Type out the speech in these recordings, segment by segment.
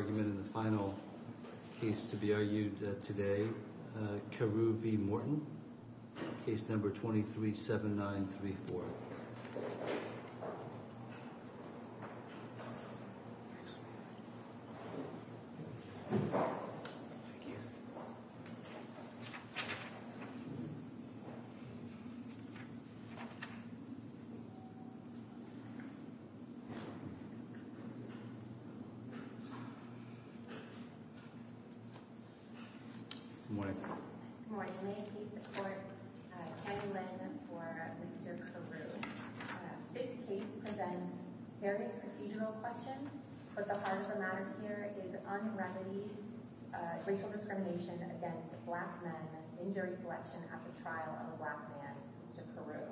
Case No. 237934 Good morning. Good morning. May it please the Court, I'm Tammy Lynn for Mr. Carew. This case presents various procedural questions, but the heart of the matter here is unremedied racial discrimination against black men, injury selection at the trial of a black man, Mr. Carew.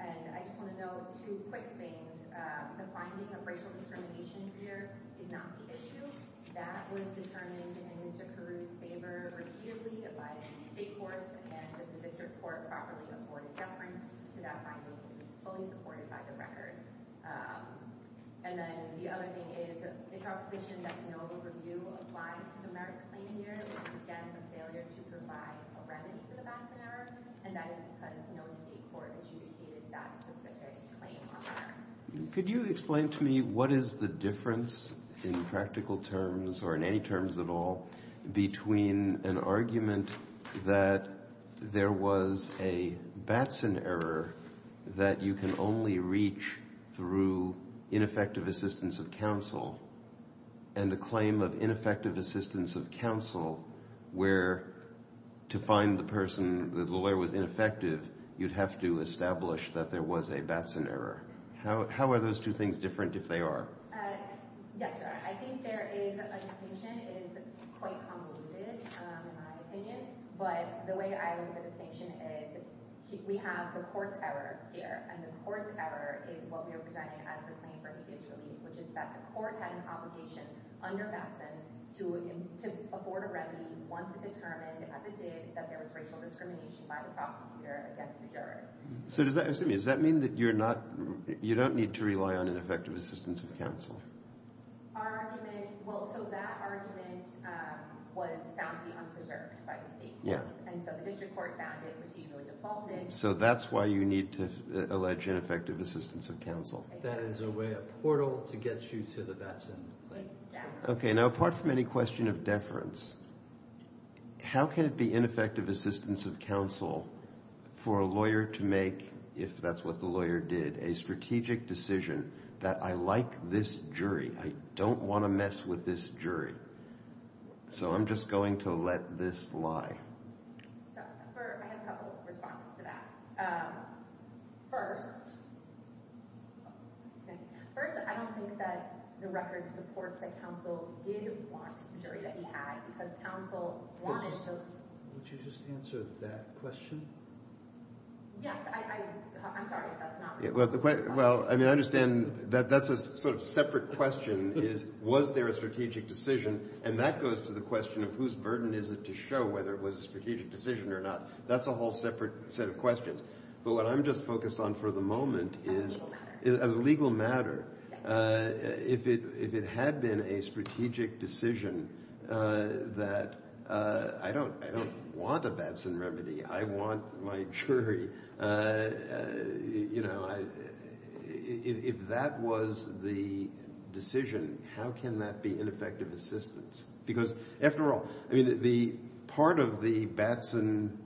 And I just want to note two quick things. The finding of racial discrimination here is not the issue. That was determined in Mr. Carew's favor repeatedly by the State Courts and the District Court properly afforded deference to that finding and is fully supported by the record. And then the other thing is, it's our position that no overview applies to the merits claim here, and again, the failure to provide a remedy for the Batson error. And that is because no State Court adjudicated that specific claim on merits. Could you explain to me what is the difference in practical terms or in any terms at all between an argument that there was a Batson error that you can only reach through ineffective assistance of counsel and a claim of ineffective assistance of counsel where to find the person, the lawyer was ineffective, you'd have to establish that there was a Batson error. How are those two things different if they are? Yes, sir. I think there is a distinction. It is quite convoluted in my opinion. But the way I look at the distinction is we have the court's error here, and the court's error is what we are presenting as the claim for needless relief, which is that the court had an obligation under Batson to afford a remedy once it determined, as it did, that there was racial discrimination by the prosecutor against the jurist. So does that mean that you don't need to rely on ineffective assistance of counsel? Well, so that argument was found to be unpreserved by the State Courts, and so the district court found it procedurally defaulted. So that's why you need to allege ineffective assistance of counsel. That is a way, a portal, to get you to the Batson claim. Okay, now apart from any question of deference, how can it be ineffective assistance of counsel for a lawyer to make, if that's what the lawyer did, a strategic decision that I like this jury, I don't want to mess with this jury, so I'm just going to let this lie. I have a couple of responses to that. First, I don't think that the record supports that counsel did want the jury that he had because counsel wanted to... Would you just answer that question? Yes, I'm sorry if that's not... Well, I mean, I understand that that's a sort of separate question is was there a strategic decision, and that goes to the question of whose burden is it to show whether it was a strategic decision or not. That's a whole separate set of questions. But what I'm just focused on for the moment is as a legal matter, if it had been a strategic decision that I don't want a Batson remedy, I want my jury, you know, if that was the decision, how can that be ineffective assistance? Because, after all, I mean, part of the Batson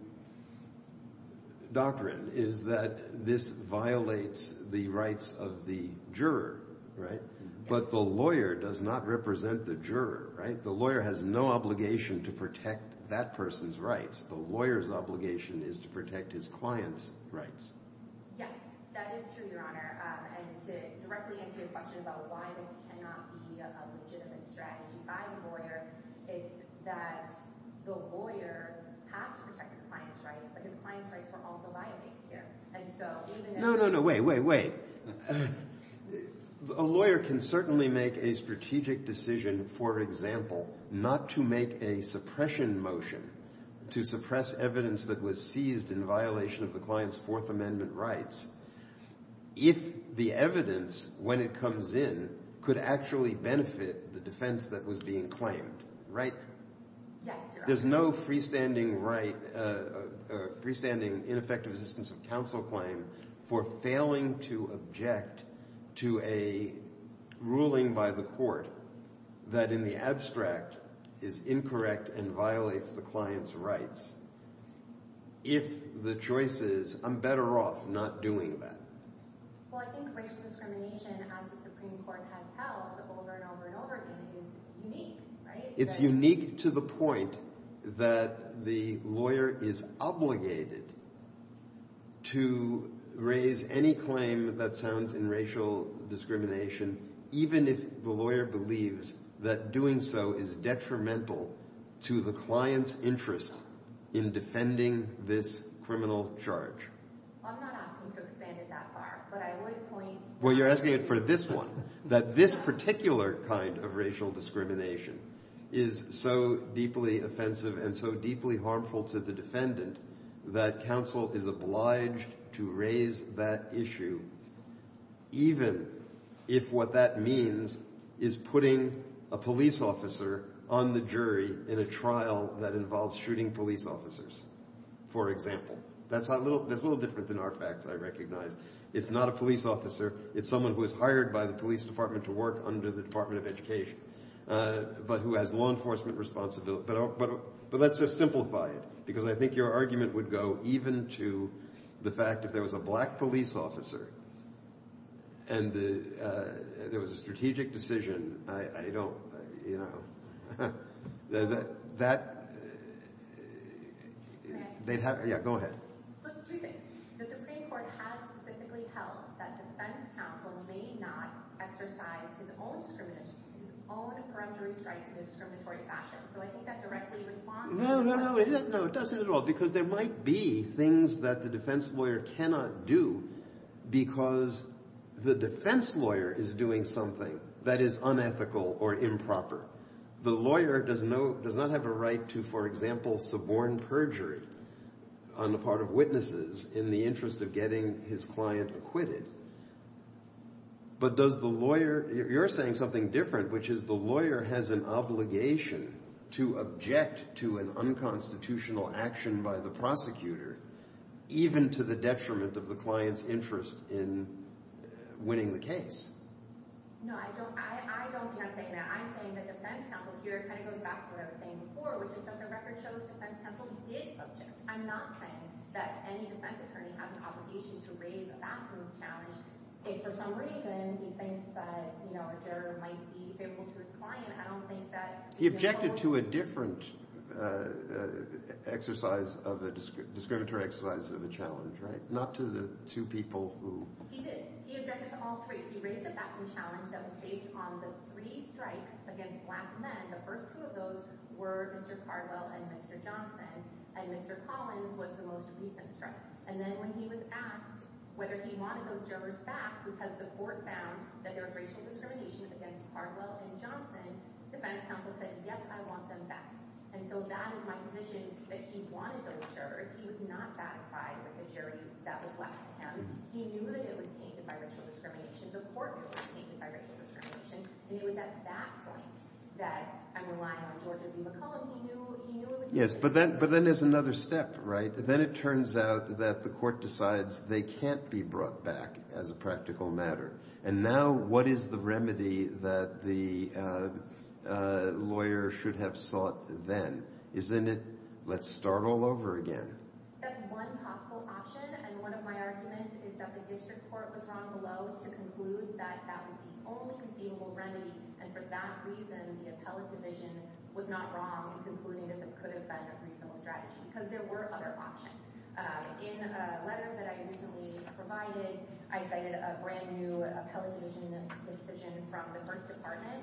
doctrine is that this violates the rights of the juror, right? But the lawyer does not represent the juror, right? The lawyer has no obligation to protect that person's rights. The lawyer's obligation is to protect his client's rights. Yes, that is true, Your Honor. And to directly answer your question about why this cannot be a legitimate strategy by the lawyer is that the lawyer has to protect his client's rights, but his client's rights were also violated here. And so even if... No, no, no, wait, wait, wait. A lawyer can certainly make a strategic decision, for example, not to make a suppression motion to suppress evidence that was seized in violation of the client's Fourth Amendment rights if the evidence, when it comes in, could actually benefit the defense that was being claimed, right? Yes, Your Honor. There's no freestanding ineffective assistance of counsel claim for failing to object to a ruling by the court that in the abstract is incorrect and violates the client's rights if the choice is, I'm better off not doing that. Well, I think racial discrimination, as the Supreme Court has held over and over and over again, is unique, right? It's unique to the point that the lawyer is obligated to raise any claim that sounds in racial discrimination, even if the lawyer believes that doing so is detrimental to the client's interest in defending this criminal charge. I'm not asking to expand it that far, but I would point... Well, you're asking it for this one, that this particular kind of racial discrimination is so deeply offensive and so deeply harmful to the defendant that counsel is obliged to raise that issue even if what that means is putting a police officer on the jury in a trial that involves shooting police officers, for example. That's a little different than our facts, I recognize. It's not a police officer. It's someone who is hired by the police department to work under the Department of Education, but who has law enforcement responsibility. But let's just simplify it, because I think your argument would go even to the fact that if there was a black police officer and there was a strategic decision, I don't... That... Yeah, go ahead. So two things. The Supreme Court has specifically held that defense counsel may not exercise his own discriminatory, his own perjury strikes in a discriminatory fashion. So I think that directly responds to... No, no, no, it doesn't at all, because there might be things that the defense lawyer cannot do because the defense lawyer is doing something that is unethical or improper. The lawyer does not have a right to, for example, suborn perjury on the part of witnesses in the interest of getting his client acquitted. But does the lawyer... You're saying something different, which is the lawyer has an obligation to object to an unconstitutional action by the prosecutor, even to the detriment of the client's interest in winning the case. No, I don't think I'm saying that. I'm saying that defense counsel here kind of goes back to what I was saying before, which is that the record shows defense counsel did object. I'm not saying that any defense attorney has an obligation to raise a Batson challenge. If for some reason he thinks that a juror might be favorable to his client, I don't think that... He objected to a different exercise of a... discriminatory exercise of a challenge, right? Not to the two people who... He did. He objected to all three. He raised a Batson challenge that was based on the three strikes against black men. The first two of those were Mr. Cardwell and Mr. Johnson, and Mr. Collins was the most recent strike. And then when he was asked whether he wanted those jurors back because the court found that there was racial discrimination against Cardwell and Johnson, defense counsel said, yes, I want them back. And so that is my position, that he wanted those jurors. He was not satisfied with the jury that was left to him. He knew that it was tainted by racial discrimination. The court knew it was tainted by racial discrimination. And it was at that point that I'm relying on George W. McClellan. He knew it was... Yes, but then there's another step, right? Then it turns out that the court decides they can't be brought back as a practical matter. And now what is the remedy that the lawyer should have sought then? Isn't it, let's start all over again? That's one possible option. And one of my arguments is that the district court was wrong below to conclude that that was the only conceivable remedy. And for that reason, the appellate division was not wrong in concluding that this could have been a reasonable strategy because there were other options. In a letter that I recently provided, I cited a brand new appellate division decision from the first department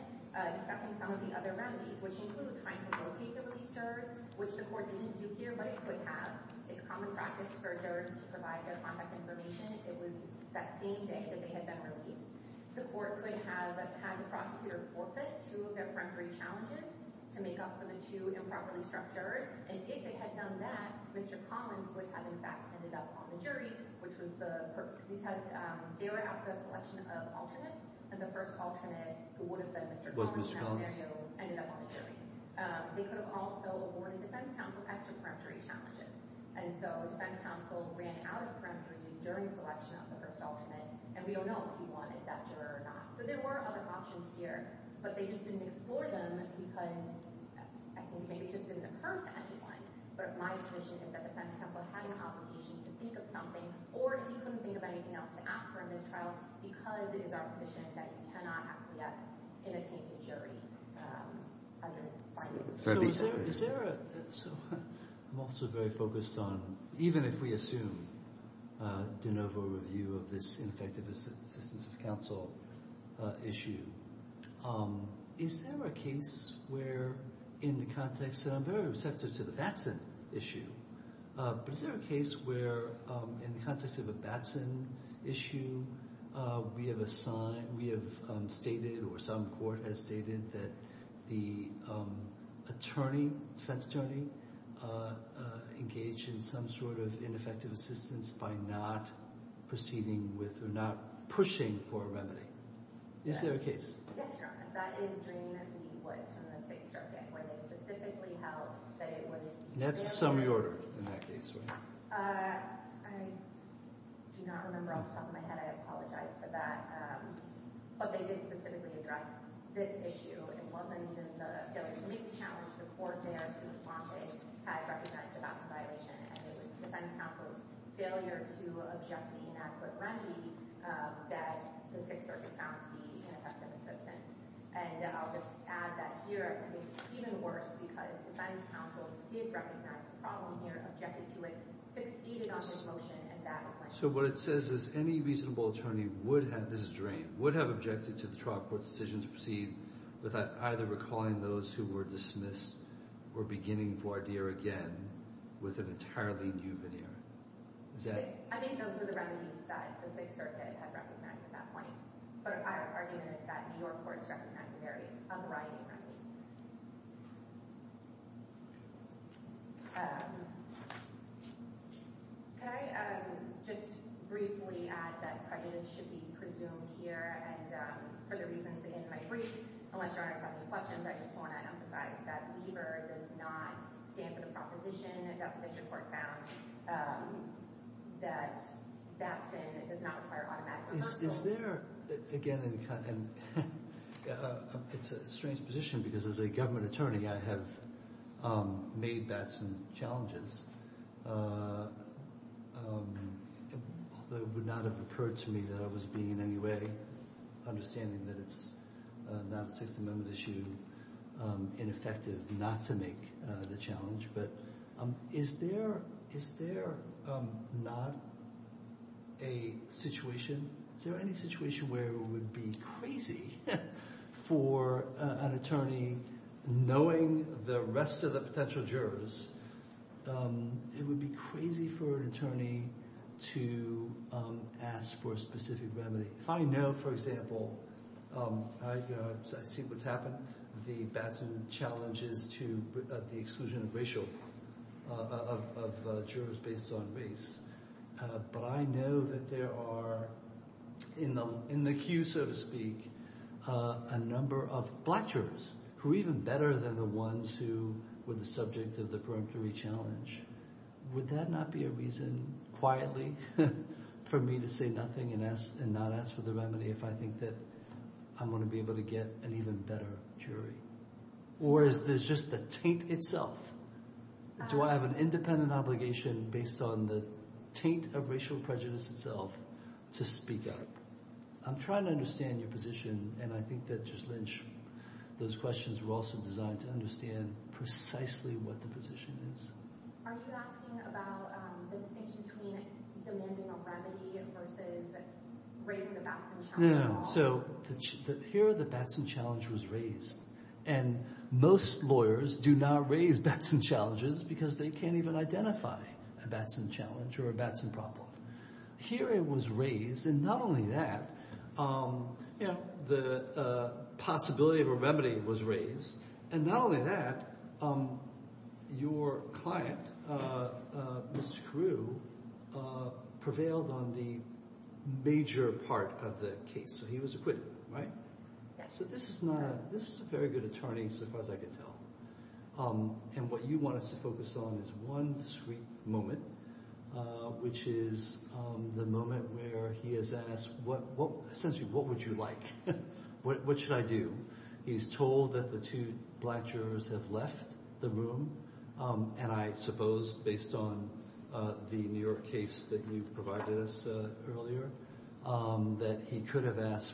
discussing some of the other remedies, which include trying to locate the released jurors, which the court didn't do here, but it could have. It's common practice for jurors to provide their contact information if it was that same day that they had been released. The court would have had the prosecutor forfeit two of their peremptory challenges to make up for the two improperly structures. And if they had done that, Mr. Collins would have, in fact, ended up on the jury, which was the... They were after the selection of alternates, and the first alternate, who would have been Mr. Collins, ended up on the jury. They could have also awarded defense counsel extra peremptory challenges. And so defense counsel ran out of peremptories during the selection of the first alternate, and we don't know if he wanted that juror or not. So there were other options here, but they just didn't explore them because I think maybe it just didn't occur to anyone. But my intuition is that defense counsel had an obligation to think of something, or if he couldn't think of anything else to ask for in this trial, because it is our position that you cannot have PS in a tainted jury. So is there a... I'm also very focused on... Even if we assume de novo review of this ineffective assistance of counsel issue, is there a case where, in the context... And I'm very receptive to the Batson issue, but is there a case where, in the context of a Batson issue, we have stated or some court has stated that the attorney, defense attorney, engaged in some sort of ineffective assistance by not proceeding with or not pushing for a remedy? Is there a case? Yes, Your Honor. That is Dream v. Woods from the Sixth Circuit, where they specifically held that it was... That's the summary order in that case, right? I do not remember off the top of my head. I apologize for that. But they did specifically address this issue. It wasn't even the failure to meet the challenge. The court there, to respond, had represented the Batson violation, and it was defense counsel's failure to object to the inadequate remedy that the Sixth Circuit found to be ineffective assistance. And I'll just add that here, it's even worse, because defense counsel did recognize the problem here, objected to it, succeeded on this motion, and that is... So what it says is any reasonable attorney would have... This is Dream. Would have objected to the trial court's decision to proceed without either recalling those who were dismissed or beginning voir dire again with an entirely new veneer. Is that... Yes. I think those were the remedies that the Sixth Circuit had recognized at that point. But my argument is that New York courts recognized various, a variety of remedies. Could I just briefly add that prejudice should be presumed here? And for the reasons in my brief, unless your Honor has any questions, I just want to emphasize that Lieber does not stand for the proposition that the district court found that Batson does not require automatic reversal. Is there, again, it's a strange position because as a government attorney, I have made Batson challenges that would not have occurred to me that I was being in any way understanding that it's not a Sixth Amendment issue, ineffective not to make the challenge. But is there not a situation, is there any situation where it would be crazy for an attorney, knowing the rest of the potential jurors, it would be crazy for an attorney to ask for a specific remedy. If I know, for example, I've seen what's happened, the Batson challenges to the exclusion of racial, of jurors based on race, but I know that there are in the queue, so to speak, a number of black jurors who are even better than the ones who were the subject of the preemptory challenge. Would that not be a reason, quietly, for me to say nothing and not ask for the remedy if I think that I'm going to be able to get an even better jury? Or is this just the taint itself? Do I have an independent obligation based on the taint of racial prejudice itself to speak up? I'm trying to understand your position, and I think that, Judge Lynch, those questions were also designed to understand precisely what the position is. Are you asking about the distinction between demanding a remedy versus raising the Batson challenge at all? Not only that, the possibility of a remedy was raised, and not only that, your client, Mr. Carew, prevailed on the major part of the case, so he was acquitted, right? So this is a very good attorney, so far as I can tell, and what you want us to focus on is one discreet moment, which is the moment where he has asked, essentially, what would you like? What should I do? He's told that the two black jurors have left the room, and I suppose, based on the New York case that you provided us earlier, that he could have asked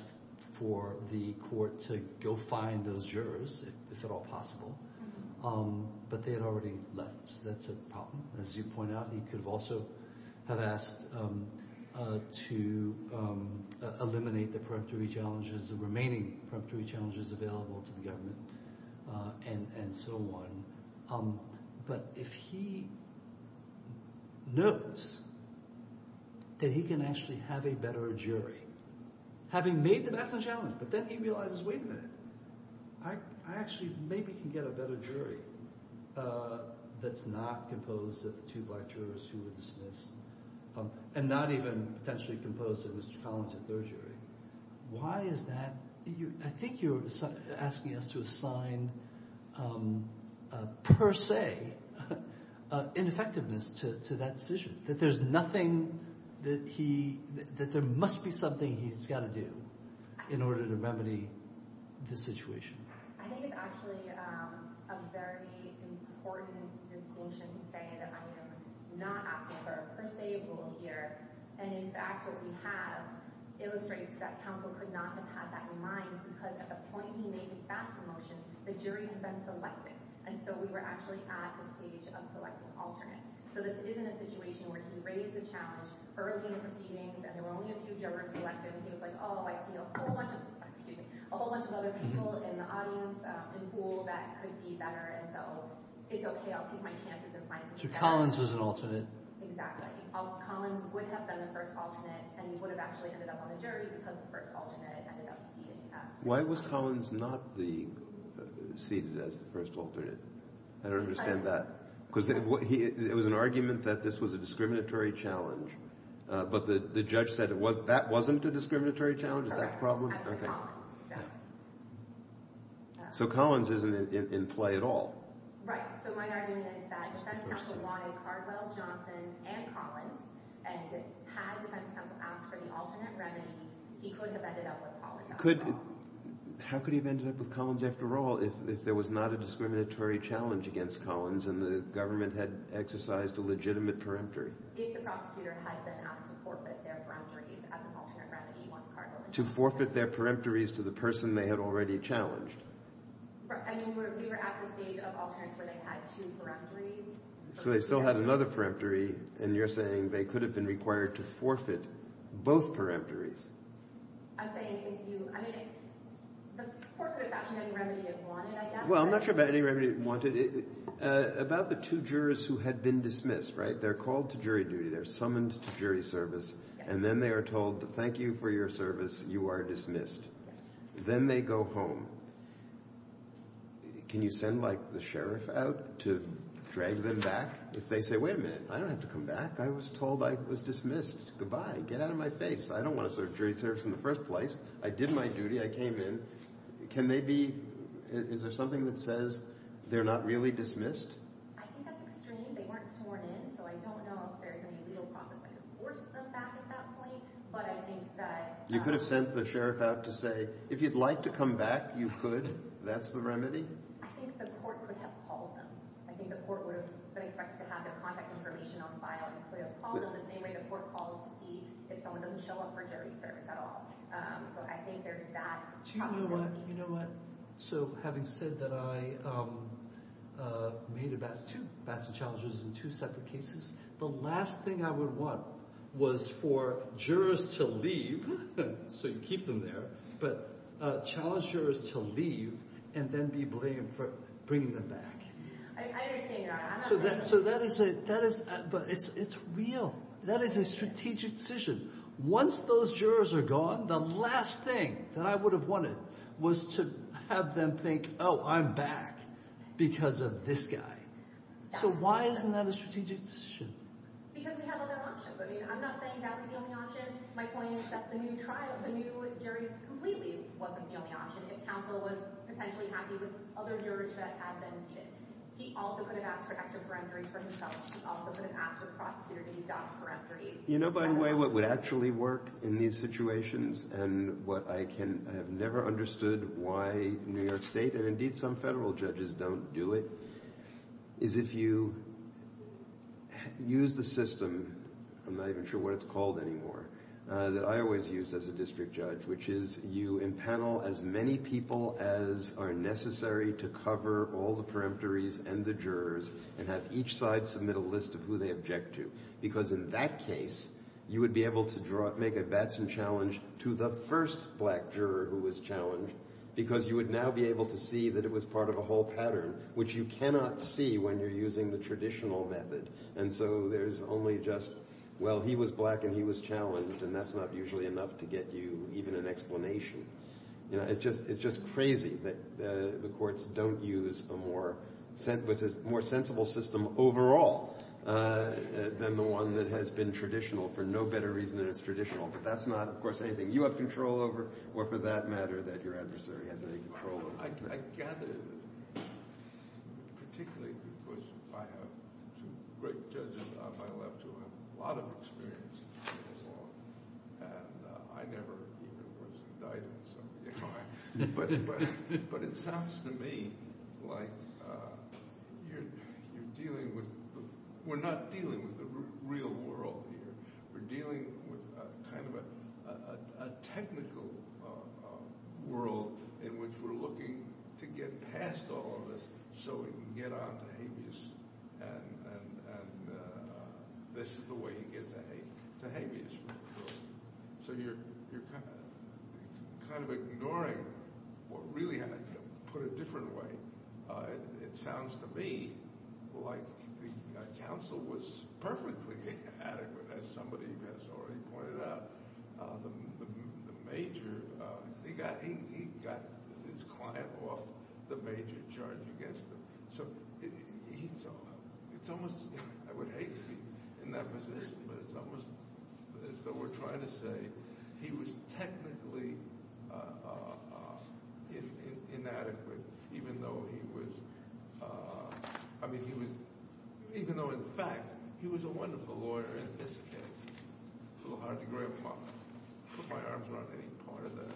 for the court to go find those jurors, if at all possible, but they had already left. That's a problem. As you point out, he could also have asked to eliminate the remaining preemptory challenges available to the government and so on, but if he knows that he can actually have a better jury, having made the Batson challenge, but then he realizes, wait a minute. I actually maybe can get a better jury that's not composed of the two black jurors who were dismissed, and not even potentially composed of Mr. Collins, the third jury. Why is that? I think you're asking us to assign, per se, ineffectiveness to that decision, that there's nothing that he, that there must be something he's got to do in order to remedy the situation. I think it's actually a very important distinction to say that I am not asking for a per se rule here, and in fact, what we have illustrates that counsel could not have had that in mind, because at the point he made his Batson motion, the jury had been selected, and so we were actually at the stage of selecting alternates. So this isn't a situation where he raised the challenge early in the proceedings, and there were only a few jurors selected, and he was like, oh, I see a whole bunch of, excuse me, a whole bunch of other people in the audience, in the pool, that could be better, and so it's okay, I'll take my chances and find something better. So Collins was an alternate. Exactly. Collins would have been the first alternate, and he would have actually ended up on the jury because the first alternate ended up ceding that. Why was Collins not the, ceded as the first alternate? I don't understand that. Because it was an argument that this was a discriminatory challenge, but the judge said that wasn't a discriminatory challenge, is that the problem? That's Collins. So Collins isn't in play at all. Right, so my argument is that defense counsel wanted Cardwell, Johnson, and Collins, and had defense counsel asked for the alternate remedy, he could have ended up with Collins. How could he have ended up with Collins, after all, if there was not a discriminatory challenge against Collins, and the government had exercised a legitimate peremptory? If the prosecutor had been asked to forfeit their peremptories as an alternate remedy once Cardwell had been charged. To forfeit their peremptories to the person they had already challenged? I mean, we were at the stage of alternates where they had two peremptories. So they still had another peremptory, and you're saying they could have been required to forfeit both peremptories. I'm saying if you, I mean, the court could have gotten any remedy it wanted, I guess. Well, I'm not sure about any remedy it wanted. About the two jurors who had been dismissed, right? They're called to jury duty, they're summoned to jury service, and then they are told, thank you for your service, you are dismissed. Then they go home. Can you send, like, the sheriff out to drag them back? If they say, wait a minute, I don't have to come back. I was told I was dismissed. Goodbye. Get out of my face. I don't want to serve jury service in the first place. I did my duty. I came in. Can they be, is there something that says they're not really dismissed? I think that's extreme. They weren't sworn in, so I don't know if there's any legal process that could force them back at that point. But I think that— You could have sent the sheriff out to say, if you'd like to come back, you could. That's the remedy? I think the court would have called them. I think the court would have been expected to have their contact information on file. They could have called them the same way the court calls to see if someone doesn't show up for jury service at all. So I think there's that possibility. Do you know what? You know what? So having said that I made about two bats and challengers in two separate cases, the last thing I would want was for jurors to leave, so you keep them there, but challenge jurors to leave and then be blamed for bringing them back. I understand that. So that is a—but it's real. That is a strategic decision. Once those jurors are gone, the last thing that I would have wanted was to have them think, oh, I'm back because of this guy. So why isn't that a strategic decision? Because we have other options. I mean, I'm not saying that's the only option. My point is that the new trial, the new jury, completely wasn't the only option. If counsel was potentially happy with other jurors that had been seated, he also could have asked for extra peremptories for himself. He also could have asked the prosecutor to deduct peremptories. You know, by the way, what would actually work in these situations and what I can— I have never understood why New York State, and indeed some federal judges don't do it, is if you use the system—I'm not even sure what it's called anymore— that I always used as a district judge, which is you impanel as many people as are necessary to cover all the peremptories and the jurors and have each side submit a list of who they object to. Because in that case, you would be able to make a Batson challenge to the first black juror who was challenged because you would now be able to see that it was part of a whole pattern which you cannot see when you're using the traditional method. And so there's only just, well, he was black and he was challenged, and that's not usually enough to get you even an explanation. You know, it's just crazy that the courts don't use a more sensible system overall than the one that has been traditional for no better reason than it's traditional. But that's not, of course, anything you have control over or for that matter that your adversary has any control over. I gather, particularly because I have two great judges on my left who have a lot of experience in the law, and I never even was indicted, so, you know. But it sounds to me like you're dealing with— we're not dealing with the real world here. We're dealing with kind of a technical world in which we're looking to get past all of this so we can get on to habeas, and this is the way you get to habeas. So you're kind of ignoring what really— to put it a different way, it sounds to me like the counsel was perfectly adequate as somebody has already pointed out. The major—he got his client off the major charge against him. So it's almost—I would hate to be in that position, but it's almost as though we're trying to say he was technically inadequate even though he was—I mean, he was— even though, in fact, he was a wonderful lawyer in this case. A little hard to grab my—put my arms around any part of that.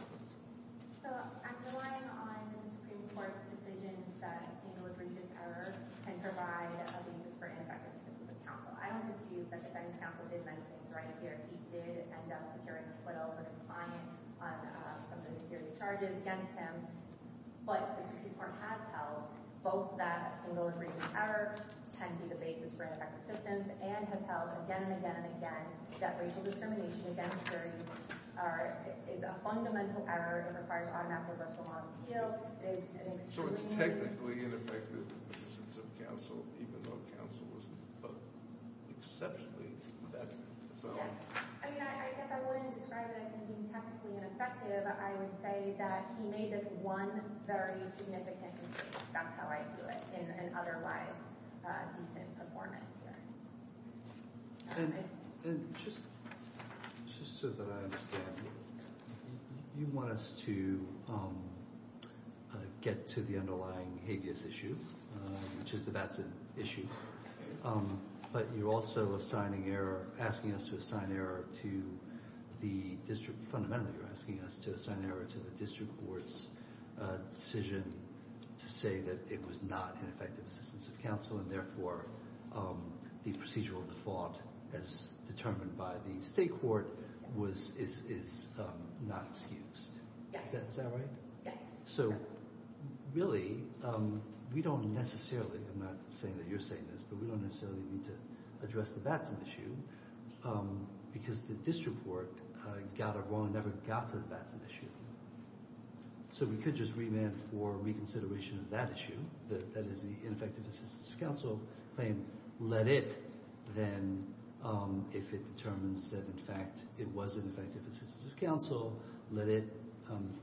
So I'm relying on the Supreme Court's decisions that a single egregious error can provide a basis for ineffective assistance of counsel. I don't assume that the defense counsel did anything right here. He did end up securing acquittal for his client on some of the serious charges against him, but the Supreme Court has held both that a single egregious error can be the basis for ineffective assistance and has held again and again and again that racial discrimination against surrogates is a fundamental error and requires automatic reversal law appeal. It is an extremely— So it's technically ineffective assistance of counsel, even though counsel was exceptionally effective. Yes. I mean, I guess I wouldn't describe it as him being technically ineffective. I would say that he made this one very significant mistake. That's how I view it in an otherwise decent performance hearing. And just so that I understand, you want us to get to the underlying habeas issue, which is that that's an issue, but you're also assigning error— asking us to assign error to the district. Fundamentally, you're asking us to assign error to the district court's decision to say that it was not an effective assistance of counsel and therefore the procedural default as determined by the state court is not excused. Is that right? Yes. So really, we don't necessarily— I'm not saying that you're saying this, but we don't necessarily need to address the Batson issue because the district court got it wrong and never got to the Batson issue. So we could just remand for reconsideration of that issue, that is the ineffective assistance of counsel claim. Let it then, if it determines that, in fact, it was an effective assistance of counsel, let it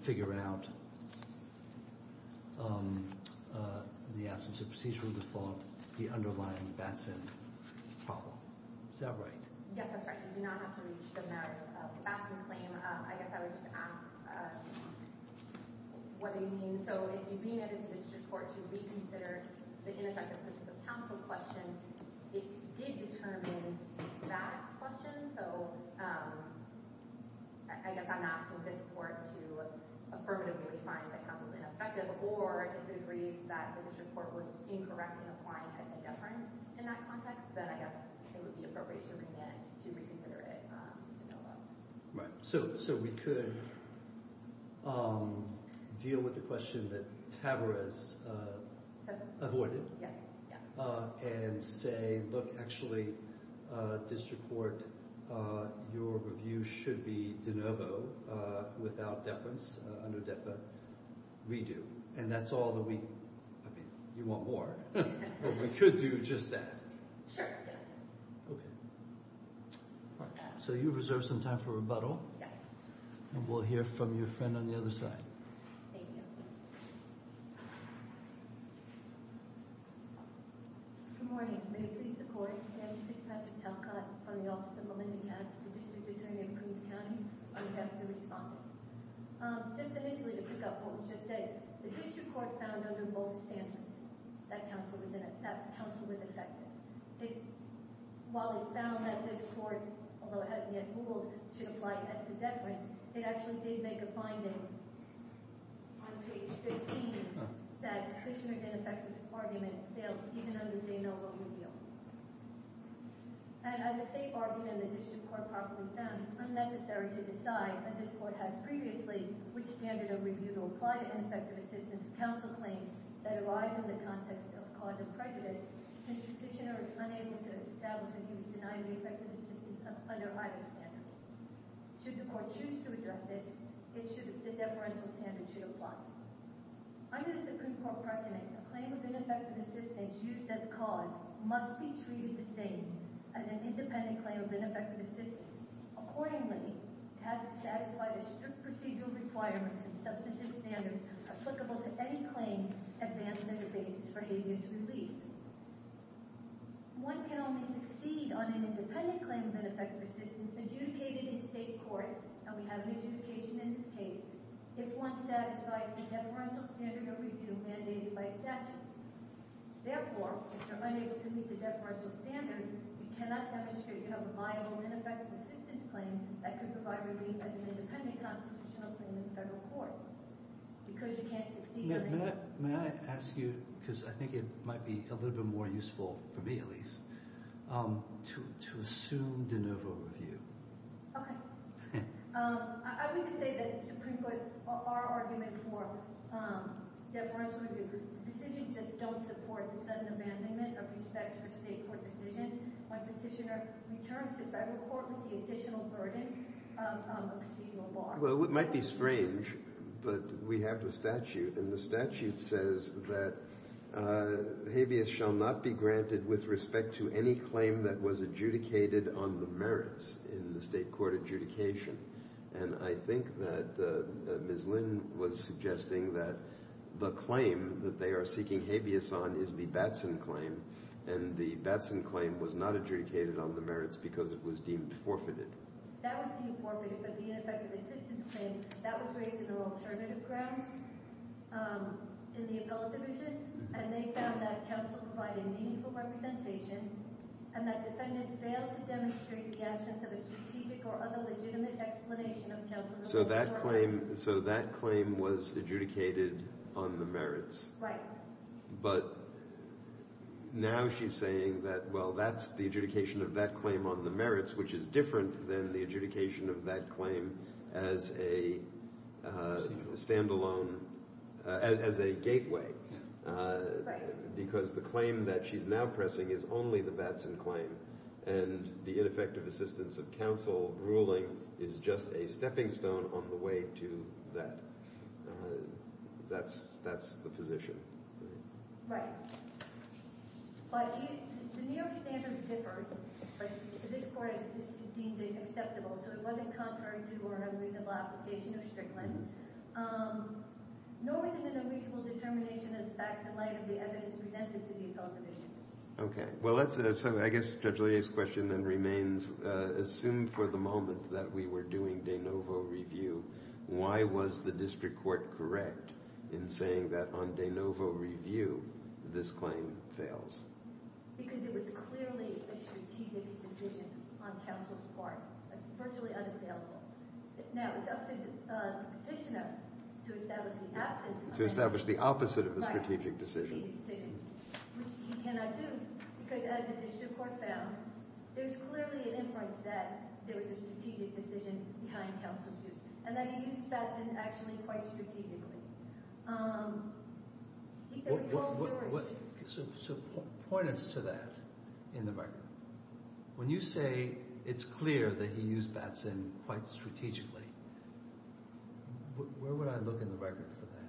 figure out the absence of procedural default, the underlying Batson problem. Is that right? Yes, that's right. You do not have to reach the merits of the Batson claim. I guess I would just ask what they mean. So if you bring it into the district court to reconsider the ineffective assistance of counsel question, it did determine that question, so I guess I'm asking this court to affirmatively find that counsel is ineffective or if it agrees that the district court was incorrect in applying a deference in that context, then I guess it would be appropriate to remand to reconsider it de novo. Right. So we could deal with the question that Tavarez avoided and say, look, actually, district court, your review should be de novo without deference under DEPA. Redo. And that's all that we—I mean, you want more. We could do just that. Sure. Yes. Okay. All right. So you reserve some time for rebuttal. Yes. And we'll hear from your friend on the other side. Thank you. Good morning. May we please the court? Yes. This is Patrick Talcott from the office of Melinda Katz, the district attorney in Queens County. I'm happy to respond. Just initially to pick up what was just said, the district court found under both standards that counsel was ineffective. While it found that this court, although it hasn't yet ruled, should apply a deference, it actually did make a finding on page 15 that the district ineffective argument fails even under de novo review. And as a safe argument and the district court properly found, it's unnecessary to decide, as this court has previously, which standard of review to apply to ineffective assistance of counsel claims that arise in the context of cause of prejudice since the petitioner is unable to establish that he was denying the effective assistance under either standard. Should the court choose to address it, the deferential standard should apply. Under the Supreme Court precedent, a claim of ineffective assistance used as cause must be treated the same as an independent claim of ineffective assistance. Accordingly, it has to satisfy the strict procedural requirements and substantive standards applicable to any claim that advances a basis for habeas relief. One can only succeed on an independent claim of ineffective assistance adjudicated in state court, and we have an adjudication in this case, if one satisfies the deferential standard of review mandated by statute. Therefore, if you're unable to meet the deferential standard, you cannot demonstrate you have a viable and effective assistance claim that could provide relief as an independent constitutional claim in the federal court. Because you can't succeed on an independent claim. May I ask you, because I think it might be a little bit more useful, for me at least, to assume de novo review. Okay. I would just say that the Supreme Court, our argument for deferential review decisions don't support the sudden abandonment of respect for state court decisions when petitioner returns to federal court with the additional burden of a procedural bar. Well, it might be strange, but we have the statute, and the statute says that habeas shall not be granted with respect to any claim that was adjudicated on the merits in the state court adjudication. And I think that Ms. Lynn was suggesting that the claim that they are seeking habeas on is the Batson claim, and the Batson claim was not adjudicated on the merits because it was deemed forfeited. That was deemed forfeited, but the ineffective assistance claim, that was raised in the alternative grounds in the appellate division, and they found that counsel provided meaningful representation and that defendant failed to demonstrate the absence of a strategic or other legitimate explanation of counsel's performance. So that claim was adjudicated on the merits. Right. But now she's saying that, well, that's the adjudication of that claim on the merits, which is different than the adjudication of that claim as a standalone, as a gateway. Right. Because the claim that she's now pressing is only the Batson claim, and the ineffective assistance of counsel ruling is just a stepping stone on the way to that. That's the position. Right. But the New York standard differs. This court deemed it acceptable, so it wasn't contrary to or unreasonable application of Strickland. Nor was it an unreasonable determination in the facts in light of the evidence presented to the appellate division. Well, I guess Judge Lea's question then remains, assume for the moment that we were doing de novo review, why was the district court correct in saying that on de novo review this claim fails? Because it was clearly a strategic decision on counsel's part. It's virtually unassailable. Now, it's up to the petitioner to establish the absence of it. To establish the opposite of the strategic decision. Which he cannot do, because as the district court found, there's clearly an inference that there was a strategic decision behind counsel's use and that he used Batson actually quite strategically. So point us to that in the record. When you say it's clear that he used Batson quite strategically, where would I look in the record for that?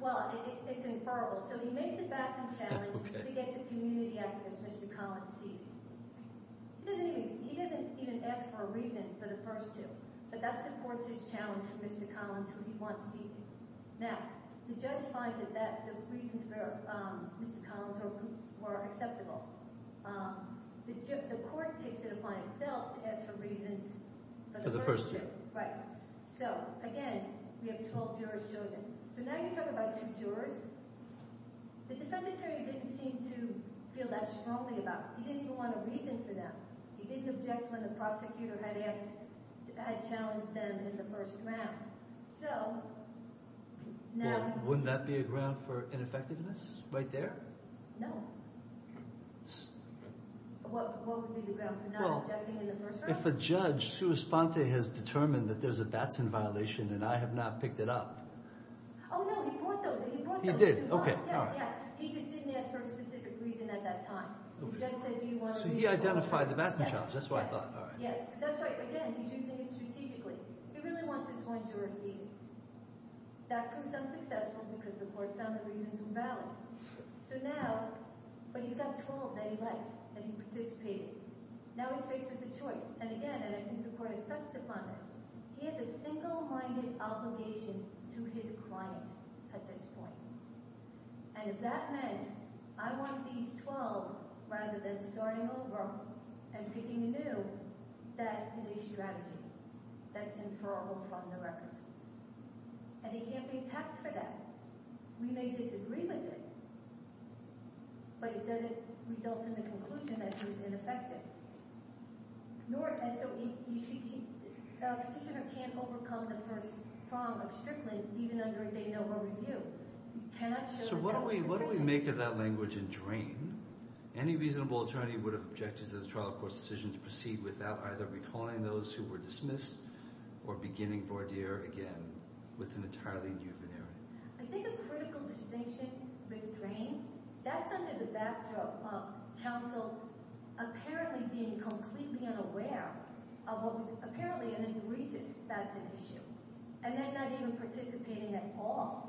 Well, it's inferrable. So he makes the Batson challenge to get the community activist, Mr. Collins, seated. He doesn't even ask for a reason for the first two, but that supports his challenge to Mr. Collins who he wants seated. Now, the judge finds that the reasons for Mr. Collins were acceptable. The court takes it upon itself to ask for reasons for the first two. For the first two. Right. So, again, we have 12 jurors chosen. So now you talk about two jurors. The defendant didn't seem to feel that strongly about it. He didn't even want a reason for them. He didn't object when the prosecutor had challenged them in the first round. So now— Wouldn't that be a ground for ineffectiveness right there? No. What would be the ground for not objecting in the first round? Well, if a judge, Sue Esponte, has determined that there's a Batson violation and I have not picked it up— Oh, no, he brought those up. He did, okay. Yes, yes. He just didn't ask for a specific reason at that time. The judge said he wanted— So he identified the Batson challenge. That's what I thought. Yes, that's right. But, again, he's using it strategically. He really wants his client to receive. That proved unsuccessful because the court found the reasons invalid. So now— But he's got 12 that he likes and he participated. Now he's faced with a choice. And, again, and I think the court has touched upon this, he has a single-minded obligation to his client at this point. And if that meant I want these 12 rather than starting over and picking a new, that is a strategy that's inferrable from the record. And he can't be tapped for that. We may disagree with it, but it doesn't result in the conclusion that he was ineffective. And so, you see, the petitioner can't overcome the first prong of Strickland even under a day-to-day review. You cannot show— So what do we make of that language in Drain? Any reasonable attorney would object to the trial court's decision to proceed without either recalling those who were dismissed or beginning voir dire again with an entirely new veneering. I think a critical distinction with Drain, that's under the backdrop of counsel apparently being completely unaware of what was apparently an egregious facts of issue and then not even participating at all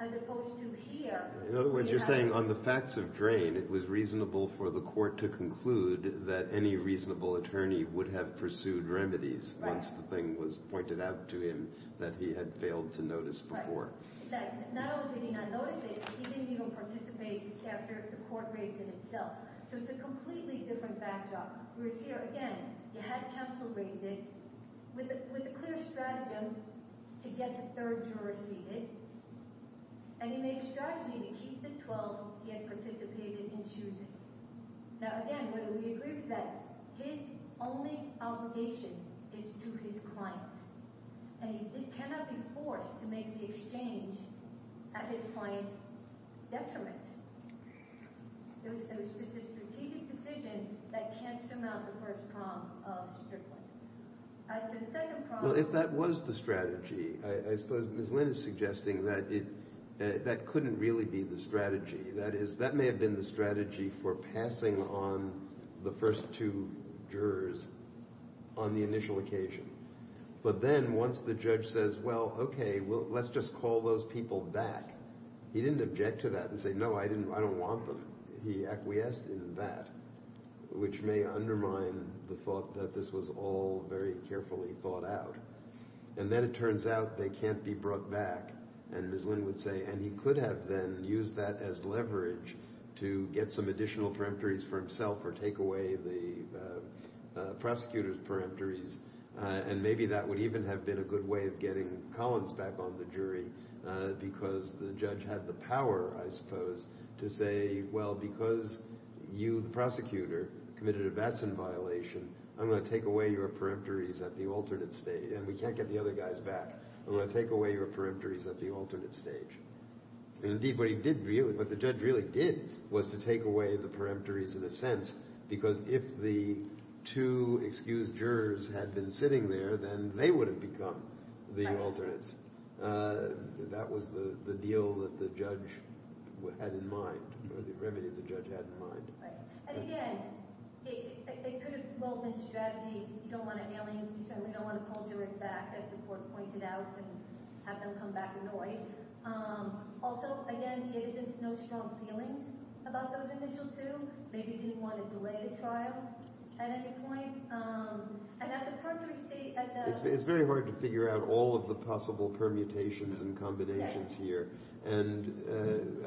as opposed to here. In other words, you're saying on the facts of Drain, it was reasonable for the court to conclude that any reasonable attorney would have pursued remedies once the thing was pointed out to him that he had failed to notice before. Right. Not only did he not notice it, he didn't even participate after the court raised it itself. So it's a completely different backdrop. Whereas here, again, you had counsel raise it with a clear strategy to get the third juror seated, and he made a strategy to keep the 12 he had participated in choosing. Now, again, whether we agree with that, his only obligation is to his client, and he cannot be forced to make the exchange at his client's detriment. It was just a strategic decision that can't surmount the first prong of Strickland. As to the second prong… Well, if that was the strategy, I suppose Ms. Lynn is suggesting that that couldn't really be the strategy. That may have been the strategy for passing on the first two jurors on the initial occasion. But then once the judge says, well, okay, let's just call those people back, he didn't object to that and say, no, I don't want them. He acquiesced in that, which may undermine the thought that this was all very carefully thought out. And then it turns out they can't be brought back, and Ms. Lynn would say, and he could have then used that as leverage to get some additional peremptories for himself or take away the prosecutor's peremptories, and maybe that would even have been a good way of getting Collins back on the jury because the judge had the power, I suppose, to say, well, because you, the prosecutor, committed a Vatsan violation, I'm going to take away your peremptories at the alternate stage, and we can't get the other guys back. I'm going to take away your peremptories at the alternate stage. And indeed, what the judge really did was to take away the peremptories in a sense because if the two excused jurors had been sitting there, then they would have become the alternates. That was the deal that the judge had in mind or the remedy the judge had in mind. And again, it could have, well, been strategy. You don't want to nail him. You certainly don't want to pull jurors back, as the court pointed out, and have them come back annoyed. Also, again, the evidence knows strong feelings about those initial two. Maybe he didn't want to delay the trial at any point. And at the peremptory stage, at the— It's very hard to figure out all of the possible permutations and combinations here, and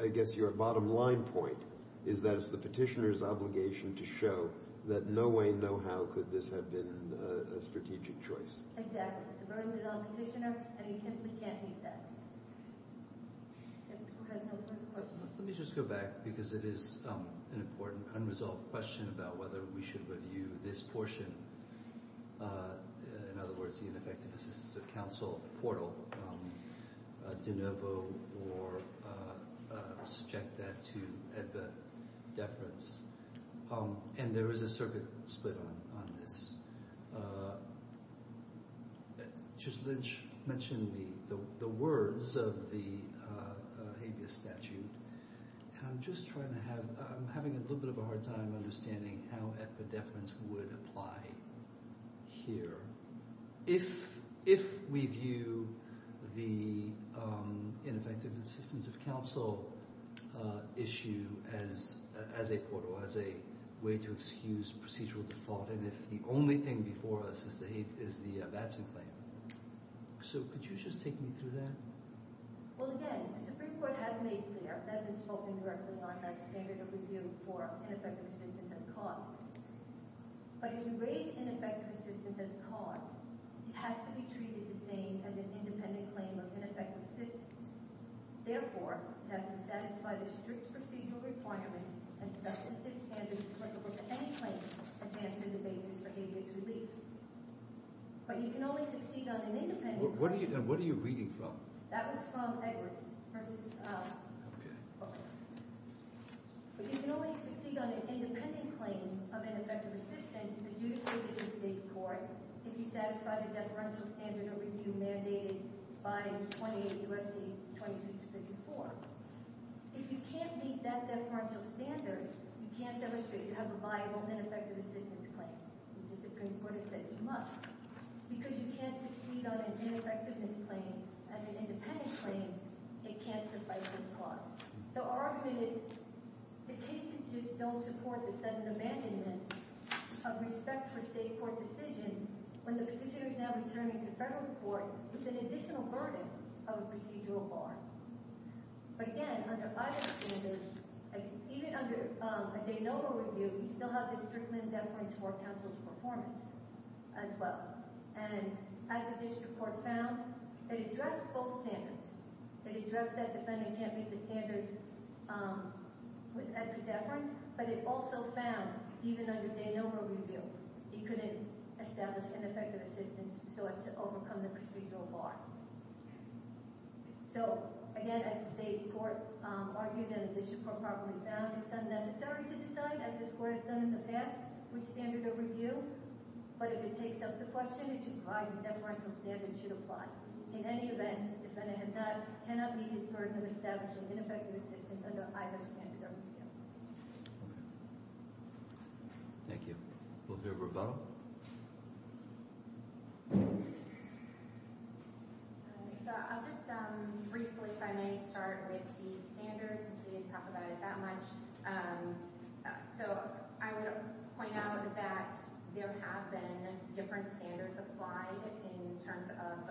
I guess your bottom line point is that it's the petitioner's obligation to show that no way, no how could this have been a strategic choice. Exactly. The burden is on the petitioner, and he simply can't meet that. Let me just go back because it is an important unresolved question about whether we should review this portion. In other words, the ineffective assistance of counsel portal de novo or subject that to EBBA deference. And there is a circuit split on this. Judge Lynch mentioned the words of the habeas statute, and I'm just trying to have—I'm having a little bit of a hard time understanding how EBBA deference would apply here if we view the ineffective assistance of counsel issue as a portal, as a way to excuse procedural default, and if the only thing before us is the Batson claim. So could you just take me through that? Well, again, the Supreme Court has made clear, and has spoken directly on that standard of review for ineffective assistance as cause. But if you raise ineffective assistance as cause, it has to be treated the same as an independent claim of ineffective assistance. Therefore, it has to satisfy the strict procedural requirements and substantive standards applicable to any claim, a chance as a basis for habeas relief. But you can only succeed on an independent— What are you reading from? That was from Edwards versus— Okay. Okay. But you can only succeed on an independent claim of ineffective assistance if it is stated in court, if you satisfy the deferential standard of review mandated by 28 U.S.C. 2264. If you can't meet that deferential standard, you can't demonstrate you have a viable ineffective assistance claim. The Supreme Court has said you must. Because you can't succeed on an ineffectiveness claim as an independent claim, it can't suffice as cause. So our argument is the cases just don't support the sudden abandonment of respect for state court decisions when the prosecutor is now returning to federal court with an additional burden of a procedural bar. But again, under either standard, even under a de novo review, you still have the Strickland deference for counsel's performance as well. And as the district court found, it addressed both standards. It addressed that defending can't meet the standard with extra deference, but it also found, even under de novo review, you couldn't establish ineffective assistance so as to overcome the procedural bar. So again, as the state court argued and the district court probably found, it's unnecessary to decide, as this court has done in the past, which standard to review. But if it takes up the question, it should provide what deferential standard should apply. In any event, the defendant cannot meet his burden of establishing ineffective assistance under either standard or review. Okay. Thank you. We'll do a rebuttal. So I'll just briefly, if I may, start with the standards since we didn't talk about it that much. So I would point out that there have been different standards applied in terms of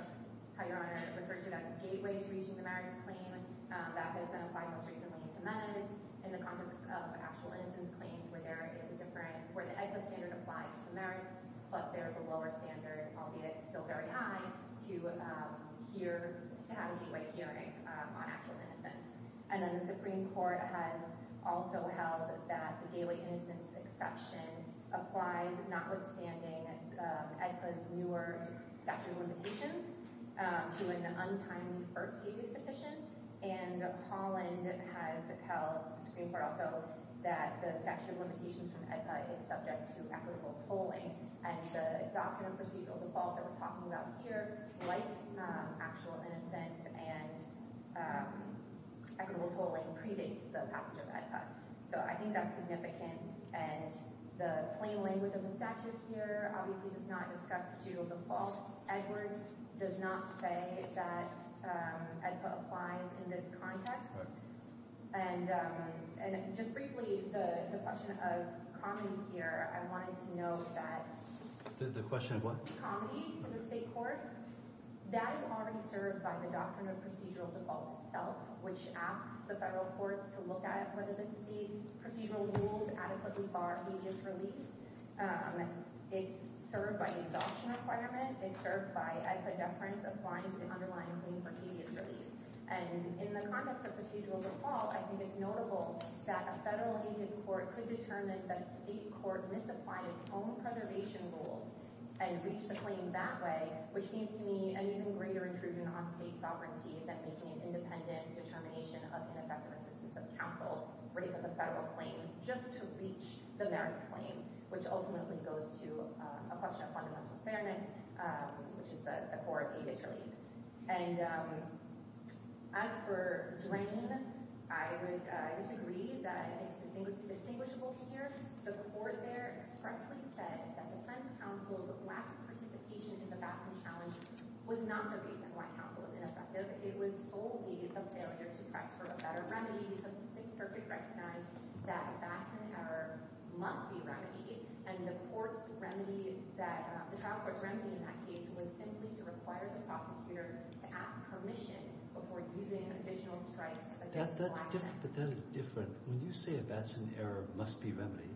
how your Honor referred to it as gateway to reaching the merits claim. That has been applied most recently in Jimenez in the context of actual instance claims where there is a different – where the ECA standard applies to the merits, but there is a lower standard, albeit still very high, to have a gateway hearing on actual instance. And then the Supreme Court has also held that the gateway instance exception applies notwithstanding ECA's newer statute of limitations to an untimely first case petition. And Holland has held, the Supreme Court also, that the statute of limitations from ECA is subject to equitable tolling. And the doctrine of procedural default that we're talking about here, like actual innocence and equitable tolling, predates the passage of ECA. So I think that's significant. And the plain language of the statute here obviously does not discuss to default Edwards, does not say that ECA applies in this context. And just briefly, the question of comedy here, I wanted to note that – The question of what? The question of comedy to the state courts, that is already served by the doctrine of procedural default itself, which asks the federal courts to look at whether the state's procedural rules adequately bar agent's relief. It's served by the adoption requirement. It's served by ECA deference applying to the underlying claim for agent's relief. And in the context of procedural default, I think it's notable that a federal agent's court could determine that a state court misapplies home preservation rules and reach the claim that way, which seems to me an even greater intrusion on state sovereignty than making an independent determination of ineffective assistance of counsel raising the federal claim just to reach the merits claim, which ultimately goes to a question of fundamental fairness, which is the core of agent's relief. And as for drain, I would disagree that it's distinguishable here. The court there expressly said that defense counsel's lack of participation in the Batson challenge was not the reason why counsel was ineffective. It was solely a failure to press for a better remedy because the state's circuit recognized that Batson error must be remedied, and the court's remedy that – the trial court's remedy in that case was simply to require the prosecutor to ask permission before using additional strikes against the law. That's different, but that is different. When you say a Batson error must be remedied,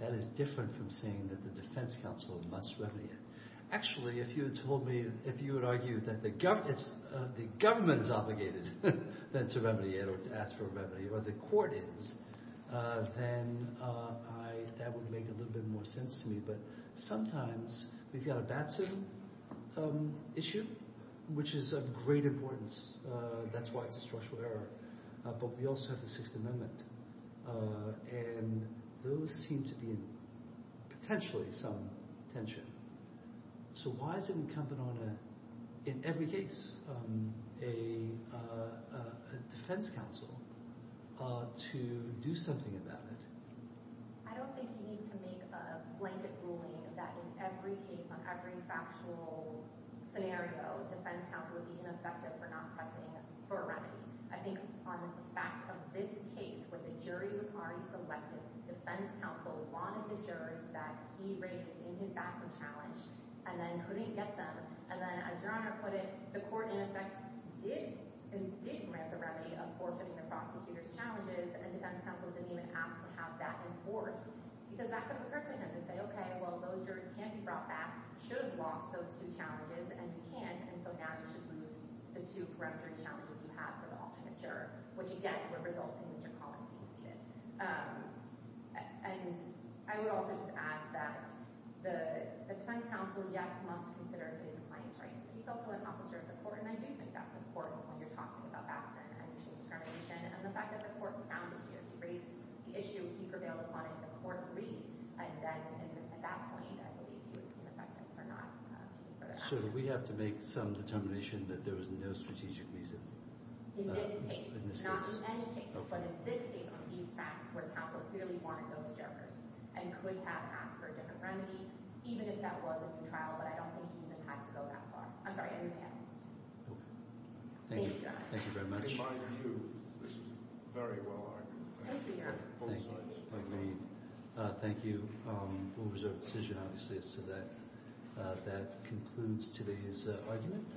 that is different from saying that the defense counsel must remedy it. Actually, if you had told me – if you had argued that the government is obligated then to remedy it or to ask for a remedy, or the court is, then that would make a little bit more sense to me. But sometimes we've got a Batson issue, which is of great importance. That's why it's a structural error. But we also have the Sixth Amendment, and those seem to be in potentially some tension. So why is it incumbent on a – in every case – a defense counsel to do something about it? I don't think you need to make a blanket ruling that in every case, on every factual scenario, defense counsel would be ineffective for not pressing for a remedy. I think on the facts of this case, where the jury was already selected, defense counsel wanted the jurors that he raised in his Batson challenge and then couldn't get them. And then, as Your Honor put it, the court, in effect, did grant the remedy of forfeiting the prosecutor's challenges, and defense counsel didn't even ask to have that enforced because that could have occurred to him to say, okay, well, those jurors can be brought back, should have lost those two challenges, and you can't, and so now you should lose the two peremptory challenges you have for the ultimate juror, which, again, would result in Mr. Collins being seated. And I would also just add that the defense counsel, yes, must consider his client's rights. He's also an officer of the court, and I do think that's important when you're talking about Batson and machine discrimination. And the fact that the court found that he raised the issue, he prevailed upon it, the court agreed, and then at that point, I believe, he was deemed effective for not seeking for that remedy. So do we have to make some determination that there was no strategic reason in this case? Not in any case, but in this case, on these facts, where counsel clearly wanted those jurors and could have asked for a different remedy, even if that was a new trial, but I don't think he even had to go that far. I'm sorry, I didn't mean that. Thank you very much. In my view, this is very well argued. Thank you, Your Honor. Thank you. Thank you. We'll reserve the decision, obviously, as to that. That concludes today's argument.